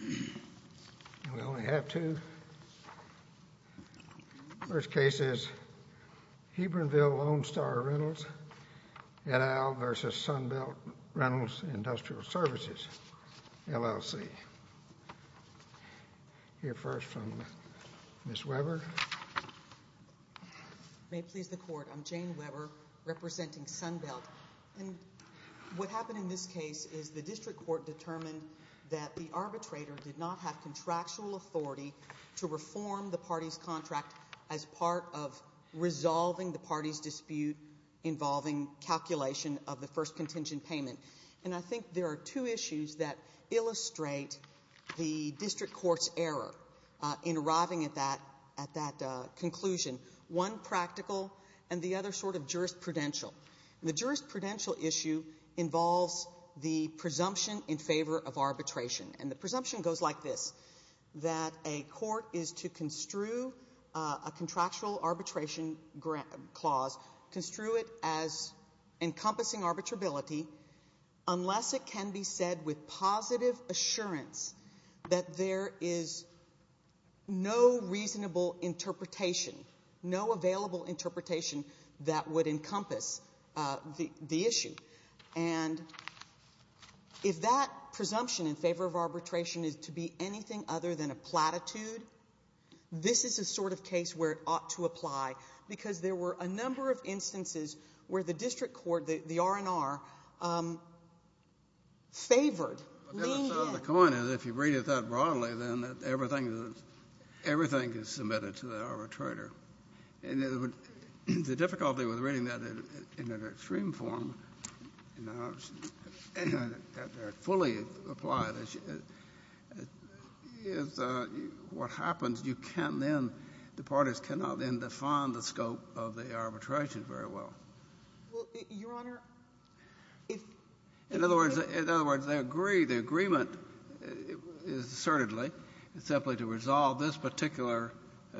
We only have two. First case is Hebronville Lone Star Rentals et al. v. Sunbelt Rentals Industrial Services, LLC. We'll hear first from Ms. Weber. May it please the Court, I'm Jane Weber representing Sunbelt. What happened in this case is the district court determined that the arbitrator did not have contractual authority to reform the party's contract as part of resolving the party's dispute involving calculation of the first contingent payment. And I think there are two issues that illustrate the district court's error in arriving at that conclusion, one practical and the other sort of jurisprudential. And the jurisprudential issue involves the presumption in favor of arbitration. And the presumption goes like this, that a court is to construe a contractual arbitration clause, construe it as encompassing arbitrability unless it can be said with positive assurance that there is no reasonable interpretation, no available interpretation that would encompass the issue. And if that presumption in favor of arbitration is to be anything other than a platitude, this is the sort of case where it ought to apply, because there were a number of instances where the district court, the R&R, favored. The other side of the coin is if you read it that broadly, then everything is submitted to the arbitrator. And the difficulty with reading that in an extreme form, that they're fully applied, is what happens, you can't then, the parties cannot then define the scope of the arbitration very well. Well, Your Honor, if they agree, the agreement is assertedly simply to resolve this particular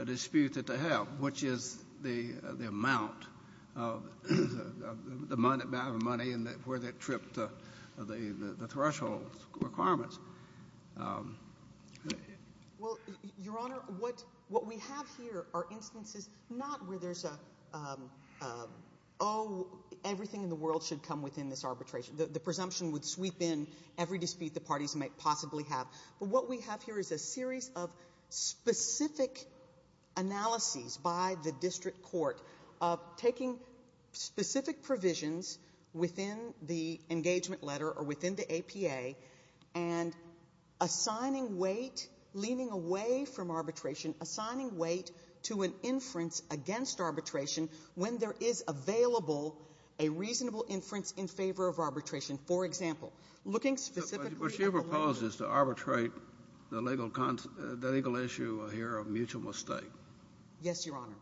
dispute that they have, which is the amount of money and where they've tripped the threshold requirements. Well, Your Honor, what we have here are instances not where there's a, oh, everything in the world should come within this arbitration, the presumption would sweep in every dispute the parties might possibly have. But what we have here is a series of specific analyses by the district court of taking specific provisions within the engagement letter or within the APA and assigning weight, leaning away from arbitration, assigning weight to an inference against arbitration when there is available a reasonable inference in favor of arbitration. But your proposal is to arbitrate the legal issue here of mutual mistake. Yes, Your Honor.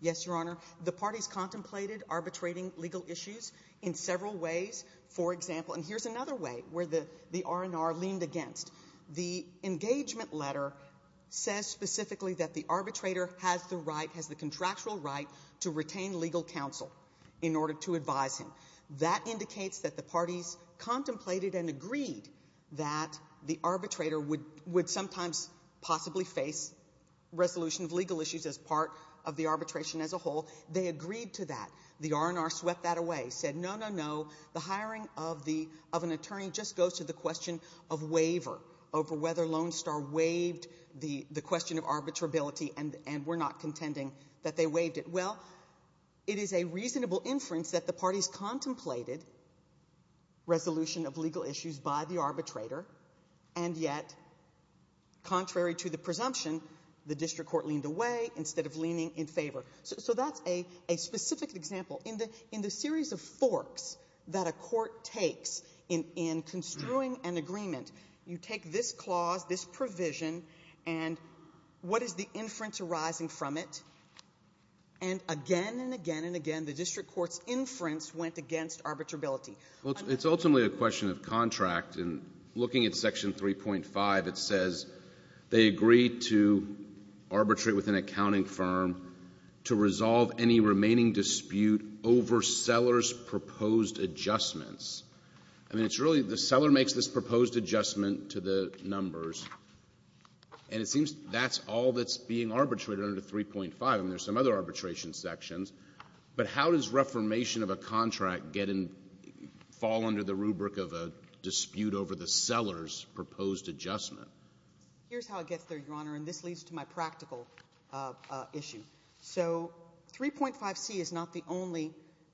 Yes, Your Honor. The parties contemplated arbitrating legal issues in several ways. For example, and here's another way where the R&R leaned against. The engagement letter says specifically that the arbitrator has the right, has the contractual right to retain legal counsel in order to advise him. That indicates that the parties contemplated and agreed that the arbitrator would sometimes possibly face resolution of legal issues as part of the arbitration as a whole. They agreed to that. The R&R swept that away, said, no, no, no, the hiring of an attorney just goes to the question of waiver over whether Lone Star waived the question of arbitrability, and we're not contending that they waived it. Well, it is a reasonable inference that the parties contemplated resolution of legal issues by the arbitrator, and yet contrary to the presumption, the district court leaned away instead of leaning in favor. So that's a specific example. In the series of forks that a court takes in construing an agreement, you take this clause, this provision, and what is the inference arising from it, and again and again and again the district court's inference went against arbitrability. Well, it's ultimately a question of contract, and looking at Section 3.5, it says they agreed to arbitrate with an accounting firm to resolve any remaining dispute over Seller's proposed adjustments. I mean, it's really the Seller makes this proposed adjustment to the numbers, and it seems that's all that's being arbitrated under 3.5, and there's some other arbitration sections. But how does reformation of a contract get in — fall under the rubric of a dispute over the Seller's proposed adjustment? Here's how it gets there, Your Honor, and this leads to my practical issue. So 3.5c is not the only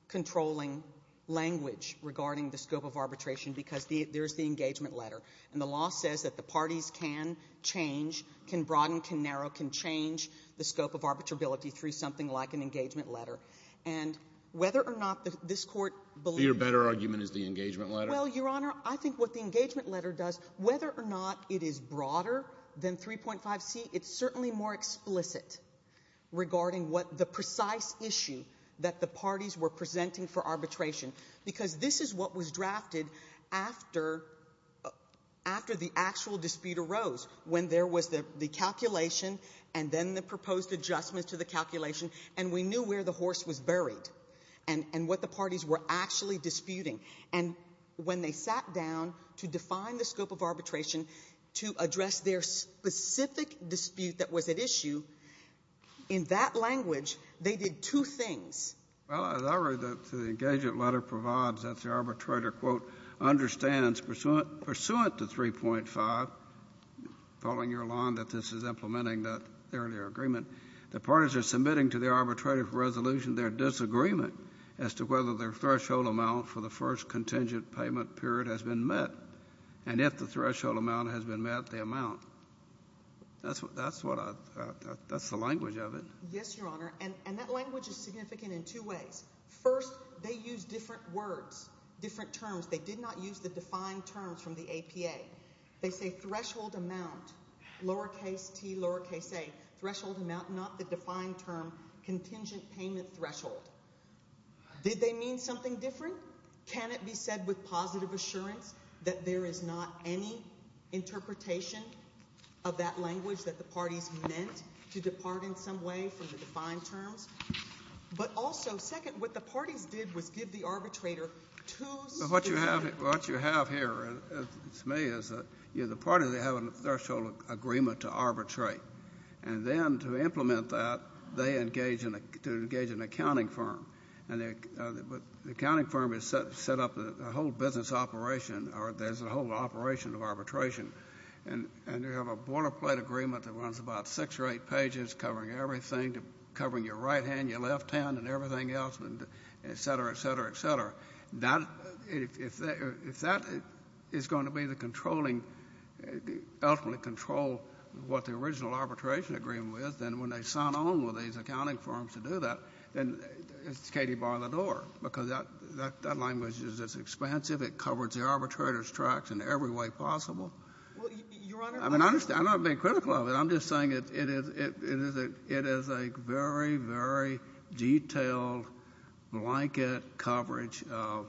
controlling language regarding the scope of arbitration because there's the engagement letter. And the law says that the parties can change, can broaden, can narrow, can change the scope of arbitrability through something like an engagement letter. And whether or not this Court believes — So your better argument is the engagement letter? Well, Your Honor, I think what the engagement letter does, whether or not it is broader than 3.5c, it's certainly more explicit regarding what the precise issue that the parties were presenting for arbitration. Because this is what was drafted after the actual dispute arose, when there was the calculation and then the proposed adjustment to the calculation, and we knew where the horse was buried and what the parties were actually disputing. And when they sat down to define the scope of arbitration to address their specific dispute that was at issue, in that language, they did two things. Well, as I read, the engagement letter provides that the arbitrator, quote, understands, pursuant to 3.5, following your line that this is implementing that earlier agreement, the parties are submitting to the arbitrator for resolution their disagreement as to whether their threshold amount for the first contingent payment period has been met, and if the threshold amount has been met, the amount. That's what I — that's the language of it. Yes, Your Honor, and that language is significant in two ways. First, they use different words, different terms. They did not use the defined terms from the APA. They say threshold amount, lowercase t, lowercase a, threshold amount, not the defined term contingent payment threshold. Did they mean something different? Second, can it be said with positive assurance that there is not any interpretation of that language that the parties meant to depart in some way from the defined terms? But also, second, what the parties did was give the arbitrator two specific terms. What you have here, to me, is the parties, they have a threshold agreement to arbitrate. And then to implement that, they engage in an accounting firm. And the accounting firm has set up a whole business operation, or there's a whole operation of arbitration. And you have a boilerplate agreement that runs about six or eight pages covering everything, covering your right hand, your left hand, and everything else, et cetera, et cetera, et cetera. Now, if that is going to be the controlling, ultimately control what the original arbitration agreement was, then when they sign on with these accounting firms to do that, then it's Katie bar the door, because that language is as expansive. It covers the arbitrator's tracks in every way possible. I mean, I'm not being critical of it. I'm just saying it is a very, very detailed blanket coverage of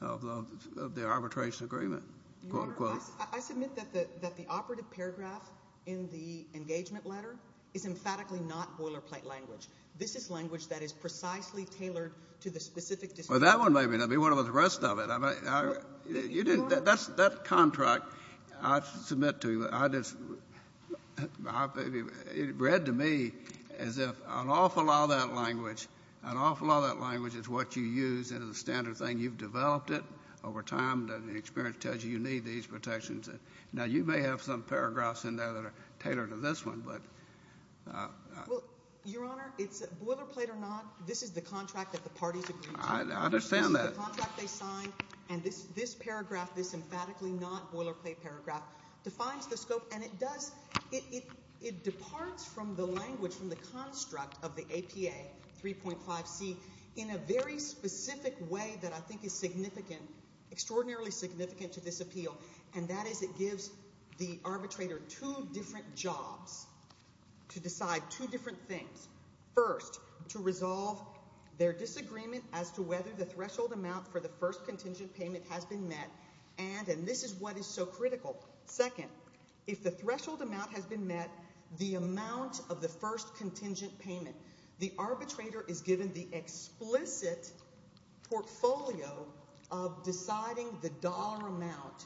the arbitration agreement, quote, unquote. I submit that the operative paragraph in the engagement letter is emphatically not boilerplate language. This is language that is precisely tailored to the specific description. Well, that one may be one of the rest of it. But you didn't – that contract, I submit to you, I just – it read to me as if an awful lot of that language, an awful lot of that language is what you use as a standard thing. You've developed it over time, and the experience tells you you need these protections. Now, you may have some paragraphs in there that are tailored to this one, but – Well, Your Honor, it's boilerplate or not, this is the contract that the parties agreed to. I understand that. This is the contract they signed, and this paragraph, this emphatically not boilerplate paragraph defines the scope, and it does – it departs from the language, from the construct of the APA 3.5C in a very specific way that I think is significant, extraordinarily significant to this appeal, and that is it gives the arbitrator two different jobs to decide two different things. First, to resolve their disagreement as to whether the threshold amount for the first contingent payment has been met, and – and this is what is so critical – second, if the threshold amount has been met, the amount of the first contingent payment, the arbitrator is given the explicit portfolio of deciding the dollar amount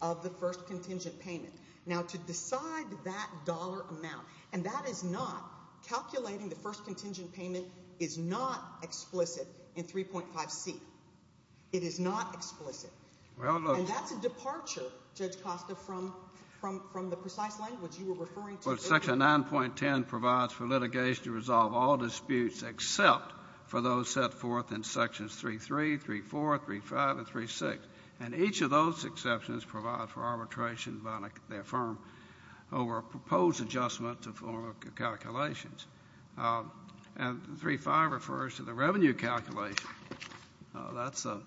of the first contingent payment. Now, to decide that dollar amount – and that is not – calculating the first contingent payment is not explicit in 3.5C. It is not explicit. Well, look – And that's a departure, Judge Costa, from – from the precise language you were referring to earlier. Well, Section 9.10 provides for litigation to resolve all disputes except for those set forth in Sections 3.3, 3.4, 3.5, and 3.6, and each of those exceptions provide for arbitration by their firm over a proposed adjustment to formal calculations. And 3.5 refers to the revenue calculation. That's a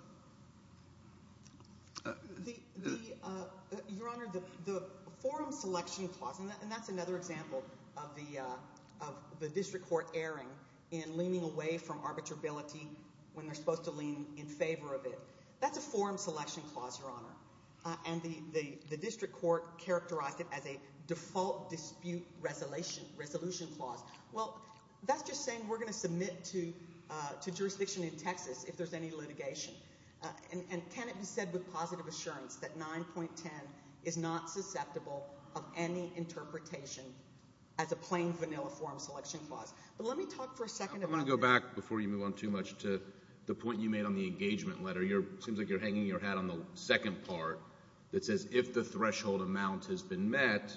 – The – the – Your Honor, the forum selection clause – and that's another example of the – of the district court erring in leaning away from arbitrability when they're supposed to lean in favor of it. That's a forum selection clause, Your Honor. And the – the district court characterized it as a default dispute resolution clause. Well, that's just saying we're going to submit to – to jurisdiction in Texas if there's any litigation. And can it be said with positive assurance that 9.10 is not susceptible of any interpretation as a plain, vanilla forum selection clause? But let me talk for a second about – I want to go back, before you move on too much, to the point you made on the engagement letter. Your – it seems like you're hanging your hat on the second part that says if the threshold amount has been met,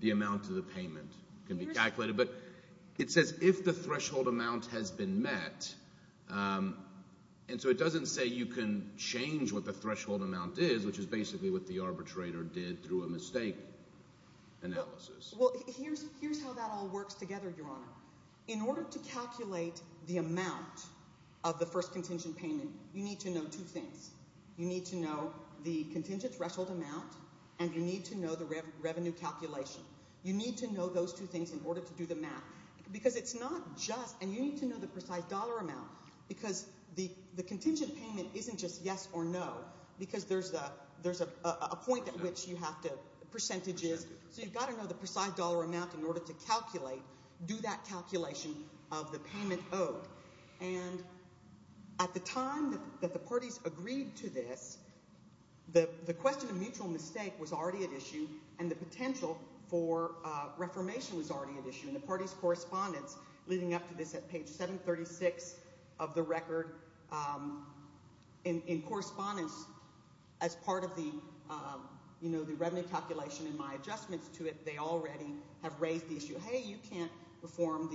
the amount of the payment can be calculated. But it says if the threshold amount has been met, and so it doesn't say you can change what the threshold amount is, which is basically what the arbitrator did through a mistake analysis. Well, here's – here's how that all works together, Your Honor. In order to calculate the amount of the first contingent payment, you need to know two things. You need to know the contingent threshold amount, and you need to know the revenue calculation. You need to know those two things in order to do the math, because it's not just – and you need to know the precise dollar amount, because the contingent payment isn't just yes or no, because there's a – there's a point at which you have to – the percentage is – so you've got to know the precise dollar amount in order to calculate – do that calculation of the payment owed. And at the time that the parties agreed to this, the question of mutual mistake was already at issue, and the potential for reformation was already at issue. And the parties' correspondence leading up to this at page 736 of the record in correspondence as part of the – you know, the revenue calculation and my adjustments to it, they already have raised the issue, hey, you can't reform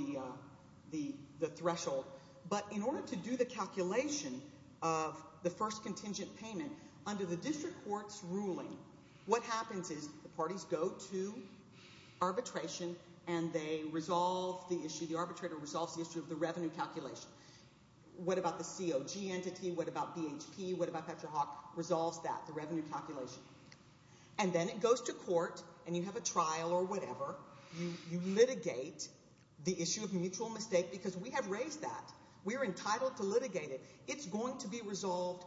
the threshold. But in order to do the calculation of the first contingent payment, under the district court's ruling, what happens is the parties go to arbitration, and they resolve the issue. The arbitrator resolves the issue of the revenue calculation. What about the COG entity? What about BHP? What about PetroHawk? Resolves that, the revenue calculation. And then it goes to court, and you have a trial or whatever. You litigate the issue of mutual mistake because we have raised that. We are entitled to litigate it. It's going to be resolved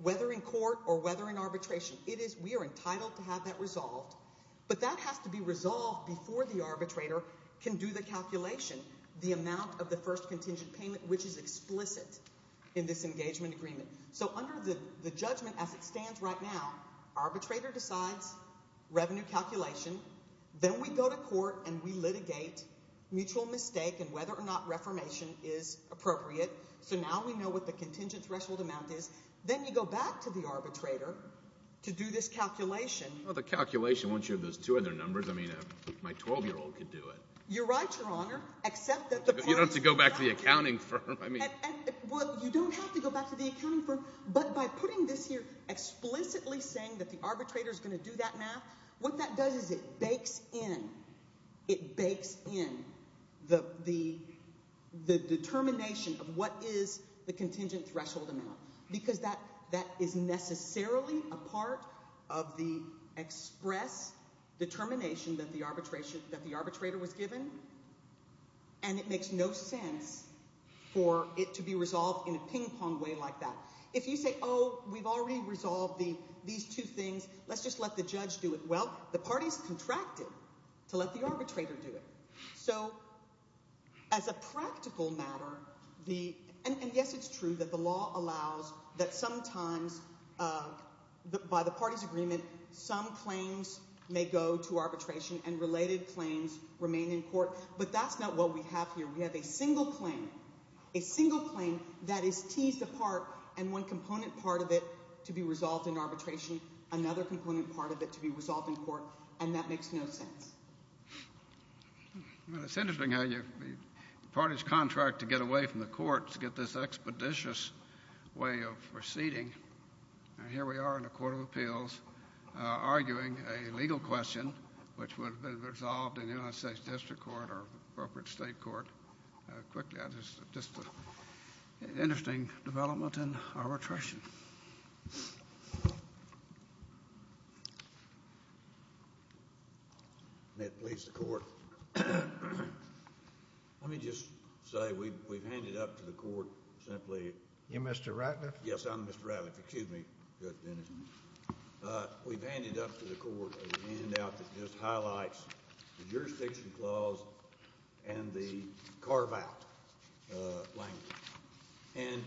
whether in court or whether in arbitration. It is – we are entitled to have that resolved, but that has to be resolved before the arbitrator can do the calculation, the amount of the first contingent payment, which is explicit in this engagement agreement. So under the judgment as it stands right now, arbitrator decides revenue calculation. Then we go to court, and we litigate mutual mistake and whether or not reformation is appropriate. So now we know what the contingent threshold amount is. Then you go back to the arbitrator to do this calculation. Well, the calculation, once you have those two other numbers, I mean, my 12-year-old could do it. You're right, Your Honor, except that the parties – You don't have to go back to the accounting firm. I mean – Well, you don't have to go back to the accounting firm, but by putting this here, explicitly saying that the arbitrator is going to do that math, what that does is it bakes in – it bakes in the determination of what is the contingent threshold amount because that is necessarily a part of the express determination that the arbitrator was given, and it makes no sense for it to be resolved in a ping-pong way like that. If you say, oh, we've already resolved these two things. Let's just let the judge do it. Well, the parties contracted to let the arbitrator do it. So as a practical matter, the – and yes, it's true that the law allows that sometimes by the parties' agreement, some claims may go to arbitration and related claims remain in court, but that's not what we have here. We have a single claim, a single claim that is teased apart and one component part of it to be resolved in arbitration, another component part of it to be resolved in court, and that makes no sense. Well, it's interesting how the parties contract to get away from the court to get this expeditious way of proceeding. Here we are in a court of appeals arguing a legal question which would have been resolved in the United States District Court or appropriate state court. Quickly, just an interesting development in arbitration. May it please the Court. Let me just say we've handed up to the Court simply. You're Mr. Ratliff? Yes, I'm Mr. Ratliff. Excuse me. Good. We've handed up to the Court a handout that just highlights the jurisdiction clause and the carve-out language, and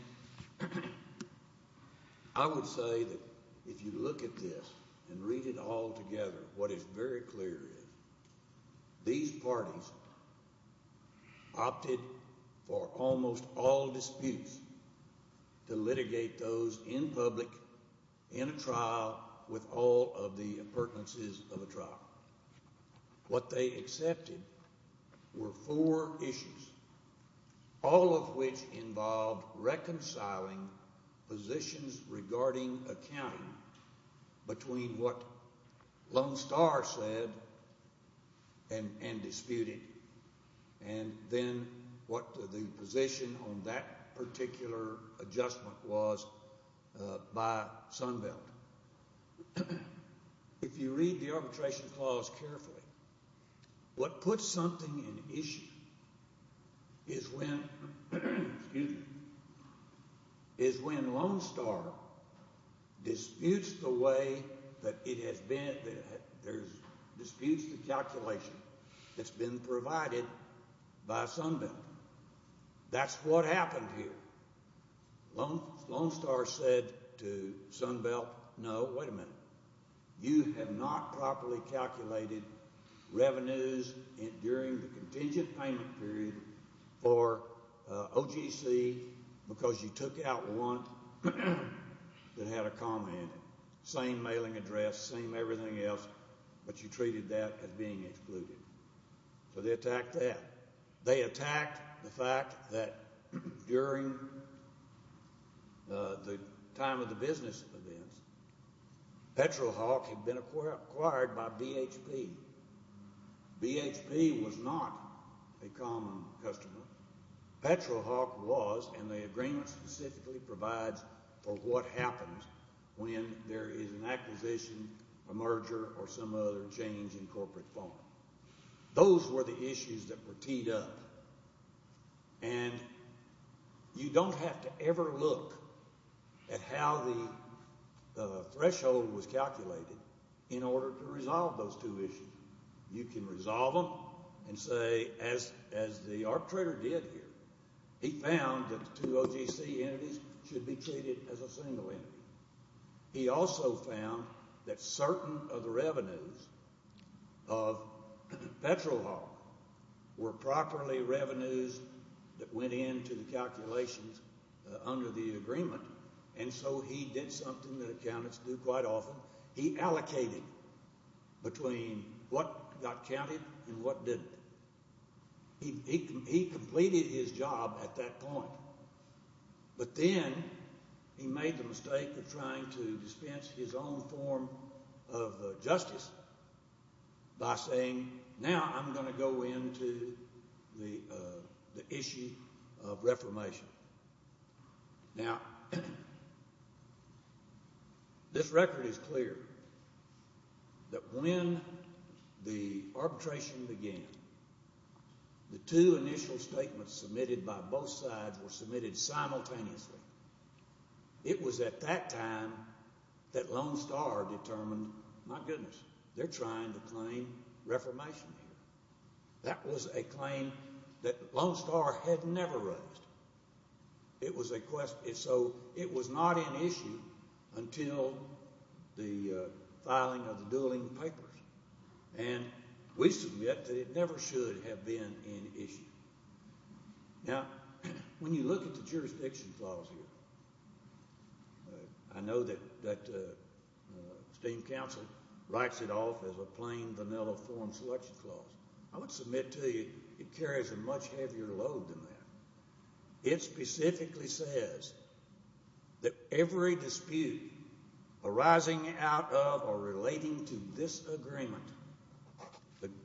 I would say that if you look at this and read it all together, what is very clear is these parties opted for almost all disputes to litigate those in public, in a trial, with all of the pertinences of a trial. What they accepted were four issues, all of which involved reconciling positions regarding accounting between what Lone Star said and disputed and then what the position on that particular adjustment was by Sunbelt. If you read the arbitration clause carefully, what puts something in issue is when Lone Star disputes the way that it has been, disputes the calculation that's been provided by Sunbelt. That's what happened here. Lone Star said to Sunbelt, no, wait a minute. You have not properly calculated revenues during the contingent payment period for OGC because you took out one that had a comma in it, same mailing address, same everything else, but you treated that as being excluded. So they attacked that. They attacked the fact that during the time of the business events, PetroHawk had been acquired by BHP. BHP was not a common customer. PetroHawk was, and the agreement specifically provides for what happens when there is an acquisition, a merger, or some other change in corporate form. Those were the issues that were teed up, and you don't have to ever look at how the threshold was calculated in order to resolve those two issues. You can resolve them and say, as the arbitrator did here, he found that the OGC entities should be treated as a single entity. He also found that certain of the revenues of PetroHawk were properly revenues that went into the calculations under the agreement, and so he did something that accountants do quite often. He allocated between what got counted and what didn't. He completed his job at that point, but then he made the mistake of trying to dispense his own form of justice by saying, now I'm going to go into the issue of reformation. Now, this record is clear that when the arbitration began, the two initial statements submitted by both sides were submitted simultaneously. It was at that time that Lone Star determined, my goodness, they're trying to claim reformation here. That was a claim that Lone Star had never raised. So it was not an issue until the filing of the dueling papers, and we submit that it never should have been an issue. Now, when you look at the jurisdiction clause here, I know that the State Judicial Council writes it off as a plain, vanilla form selection clause. I would submit to you it carries a much heavier load than that. It specifically says that every dispute arising out of or relating to this agreement,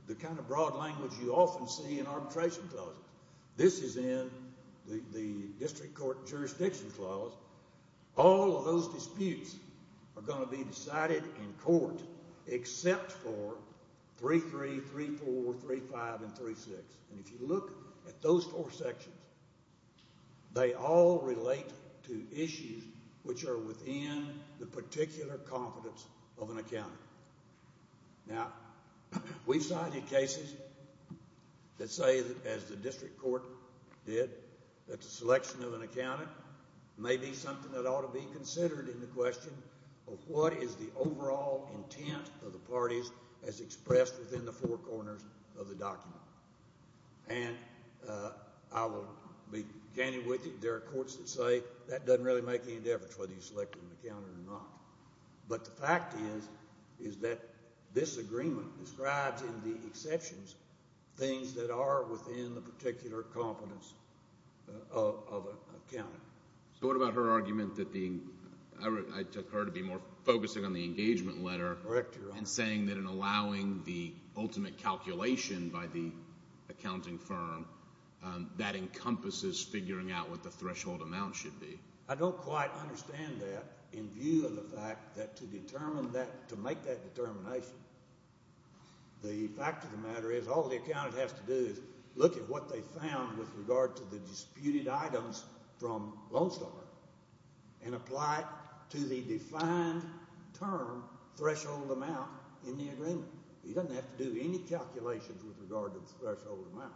the kind of broad language you often see in arbitration clauses. This is in the district court jurisdiction clause. All of those disputes are going to be decided in court except for 3.3, 3.4, 3.5, and 3.6. And if you look at those four sections, they all relate to issues which are within the particular confidence of an accountant. Now, we've cited cases that say, as the district court did, that the selection of an accountant may be something that ought to be considered in the question of what is the overall intent of the parties as expressed within the four corners of the document. And I will be candid with you. There are courts that say that doesn't really make any difference whether you select an accountant or not. But the fact is that this agreement describes in the exceptions things that are within the particular confidence of an accountant. So what about her argument that the ñ I took her to be more focusing on the engagement letter and saying that in allowing the ultimate calculation by the accounting firm, that encompasses figuring out what the threshold amount should be. I don't quite understand that in view of the fact that to determine that, to make that determination, the fact of the matter is all the accountant has to do is look at what they found with regard to the disputed items from Lone Star and apply it to the defined term threshold amount in the agreement. He doesn't have to do any calculations with regard to the threshold amount.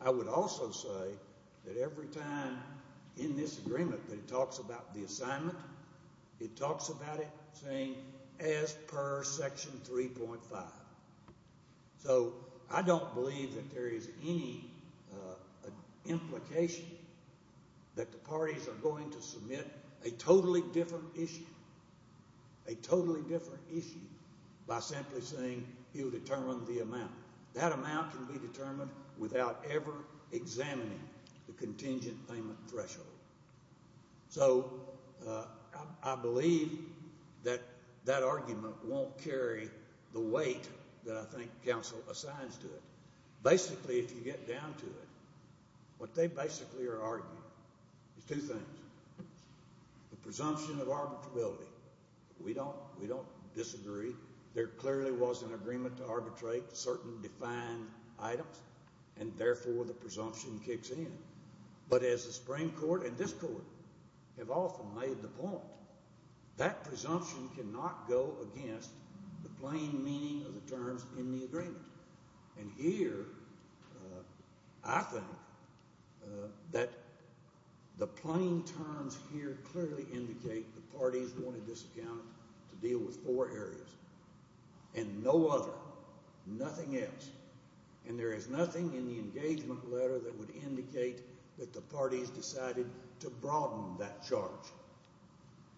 I would also say that every time in this agreement that it talks about the first section 3.5. So I don't believe that there is any implication that the parties are going to submit a totally different issue, a totally different issue, by simply saying he'll determine the amount. That amount can be determined without ever examining the contingent payment threshold. So I believe that that argument won't carry the weight that I think counsel assigns to it. Basically, if you get down to it, what they basically are arguing is two things. The presumption of arbitrability. We don't disagree. There clearly was an agreement to arbitrate certain defined items, and therefore the presumption kicks in. But as the Supreme Court and this court have often made the point, that presumption cannot go against the plain meaning of the terms in the agreement. And here I think that the plain terms here clearly indicate the parties wanted this account to deal with four areas and no other, nothing else. And there is nothing in the engagement letter that would indicate that the parties decided to broaden that charge.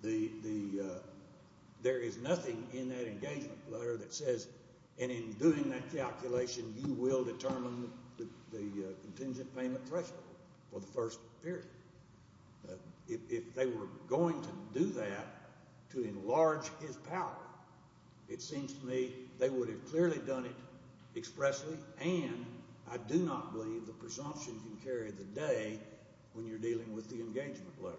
There is nothing in that engagement letter that says, and in doing that calculation, you will determine the contingent payment threshold for the first period. If they were going to do that to enlarge his power, it seems to me they would have clearly done it expressly, and I do not believe the presumption can carry the day when you're dealing with the engagement letter.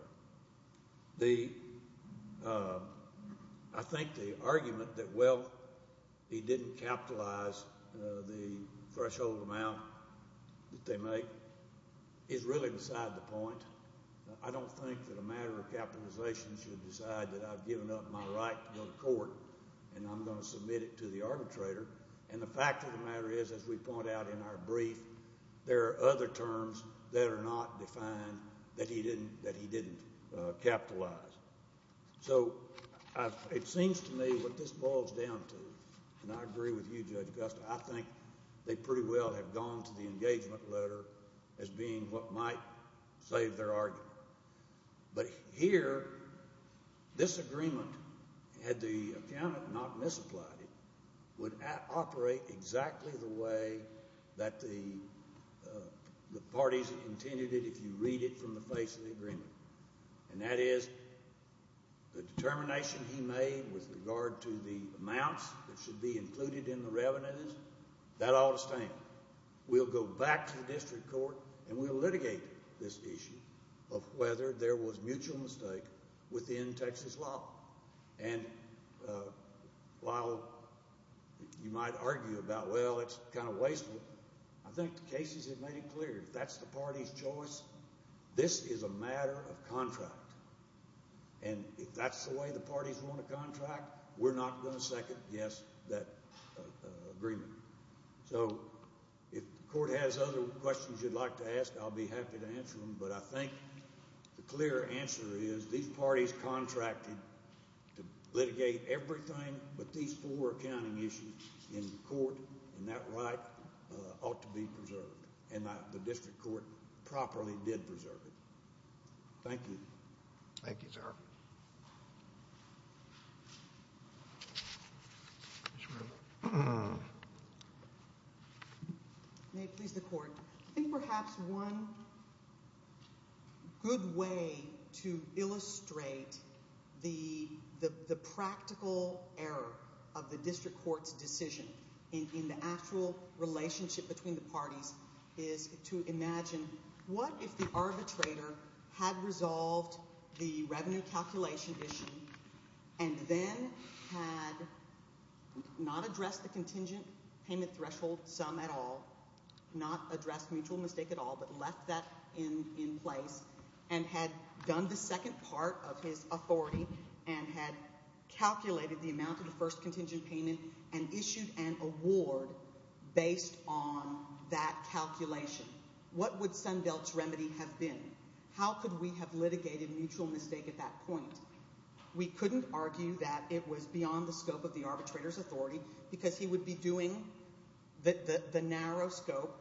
I think the argument that, well, he didn't capitalize the threshold amount that they make is really beside the point. I don't think that a matter of capitalization should decide that I've given up my right to go to court and I'm going to submit it to the arbitrator. And the fact of the matter is, as we point out in our brief, there are other terms that are not defined that he didn't capitalize. So it seems to me what this boils down to, and I agree with you, Judge Gusta, I think they pretty well have gone to the engagement letter as being what might save their argument. But here, this agreement, had the accountant not misapplied it, would operate exactly the way that the parties intended it if you read it from the face of the agreement. And that is the determination he made with regard to the amounts that should be included in the revenues, that ought to stand. Now, we'll go back to the district court and we'll litigate this issue of whether there was mutual mistake within Texas law. And while you might argue about, well, it's kind of wasteful, I think the cases have made it clear, if that's the party's choice, this is a matter of contract. And if that's the way the parties want to contract, we're not going to second, yes, that agreement. So if the court has other questions you'd like to ask, I'll be happy to answer them. But I think the clear answer is these parties contracted to litigate everything but these four accounting issues in court, and that right ought to be preserved. And the district court properly did preserve it. Thank you. Thank you, sir. May it please the court. I think perhaps one good way to illustrate the practical error of the district court's decision in the actual relationship between the parties is to imagine what if the arbitrator had resolved the revenue calculation issue and then had not addressed the contingent payment threshold sum at all, not addressed mutual mistake at all, but left that in place and had done the second part of his authority and had calculated the amount of the first contingent payment and issued an award based on that calculation. What would Sunbelt's remedy have been? How could we have litigated mutual mistake at that point? We couldn't argue that it was beyond the scope of the arbitrator's authority because he would be doing the narrow scope.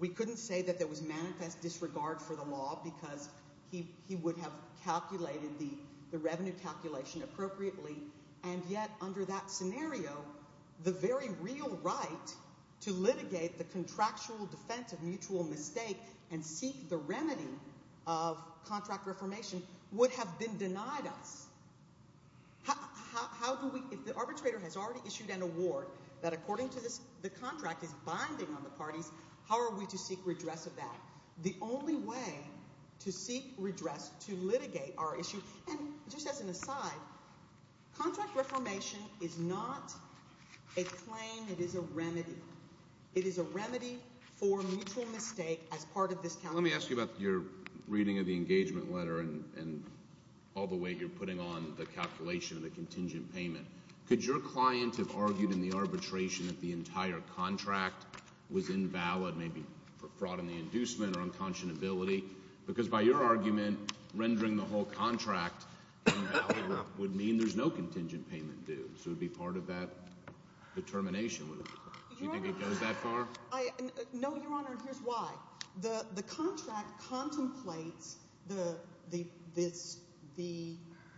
We couldn't say that there was manifest disregard for the law because he would have calculated the revenue calculation appropriately. And yet under that scenario, the very real right to litigate the contractual offense of mutual mistake and seek the remedy of contract reformation would have been denied us. If the arbitrator has already issued an award that according to the contract is binding on the parties, how are we to seek redress of that? The only way to seek redress to litigate our issue, and just as an aside, contract It is a remedy. It is a remedy for mutual mistake as part of this. Let me ask you about your reading of the engagement letter and all the way you're putting on the calculation of the contingent payment. Could your client have argued in the arbitration that the entire contract was invalid, maybe for fraud in the inducement or unconscionability? Because by your argument, rendering the whole contract invalid would mean there's no contingent payment due. So it would be part of that determination. Do you think it goes that far? No, Your Honor. Here's why. The contract contemplates the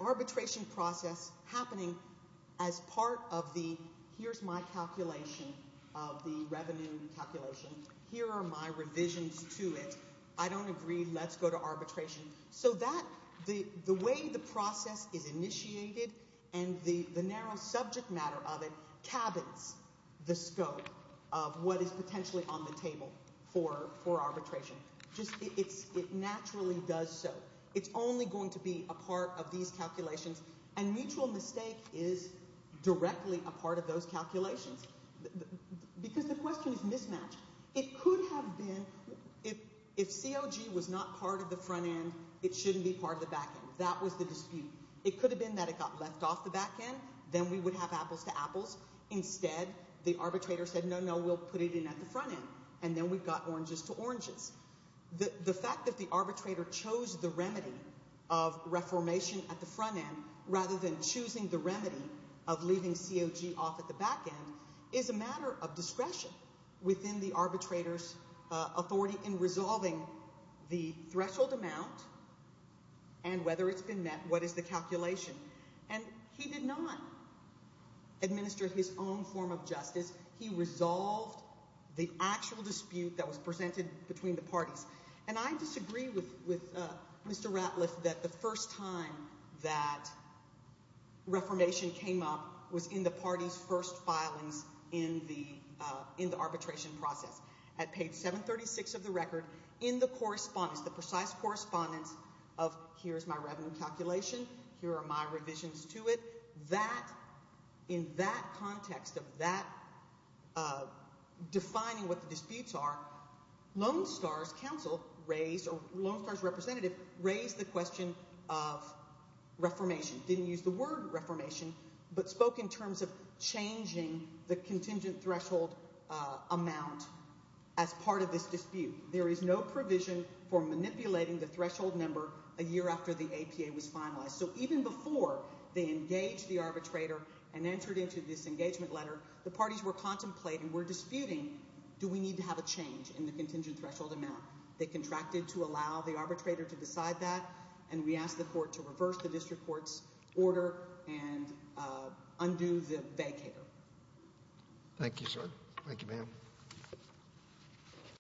arbitration process happening as part of the here's my calculation of the revenue calculation. Here are my revisions to it. I don't agree. Let's go to arbitration. So the way the process is initiated and the narrow subject matter of it cabins the scope of what is potentially on the table for arbitration. It naturally does so. It's only going to be a part of these calculations, and mutual mistake is directly a part of those calculations because the question is mismatched. It could have been if COG was not part of the front end, it shouldn't be part of the back end. That was the dispute. It could have been that it got left off the back end. Then we would have apples to apples. Instead, the arbitrator said, no, no, we'll put it in at the front end, and then we got oranges to oranges. The fact that the arbitrator chose the remedy of reformation at the front end within the arbitrator's authority in resolving the threshold amount and whether it's been met, what is the calculation? And he did not administer his own form of justice. He resolved the actual dispute that was presented between the parties. And I disagree with Mr. Ratliff that the first time that reformation came up was in the party's first filings in the arbitration process. At page 736 of the record, in the correspondence, the precise correspondence of here's my revenue calculation, here are my revisions to it, that, in that context of that defining what the disputes are, Lone Star's counsel raised, or Lone Star's representative raised the question of reformation. Didn't use the word reformation, but spoke in terms of changing the contingent threshold amount as part of this dispute. There is no provision for manipulating the threshold number a year after the APA was finalized. So even before they engaged the arbitrator and entered into this engagement letter, the parties were contemplating, were disputing, do we need to have a change in the contingent threshold amount? They contracted to allow the arbitrator to decide that, and we asked the court to order and undo the vacater. Thank you, sir.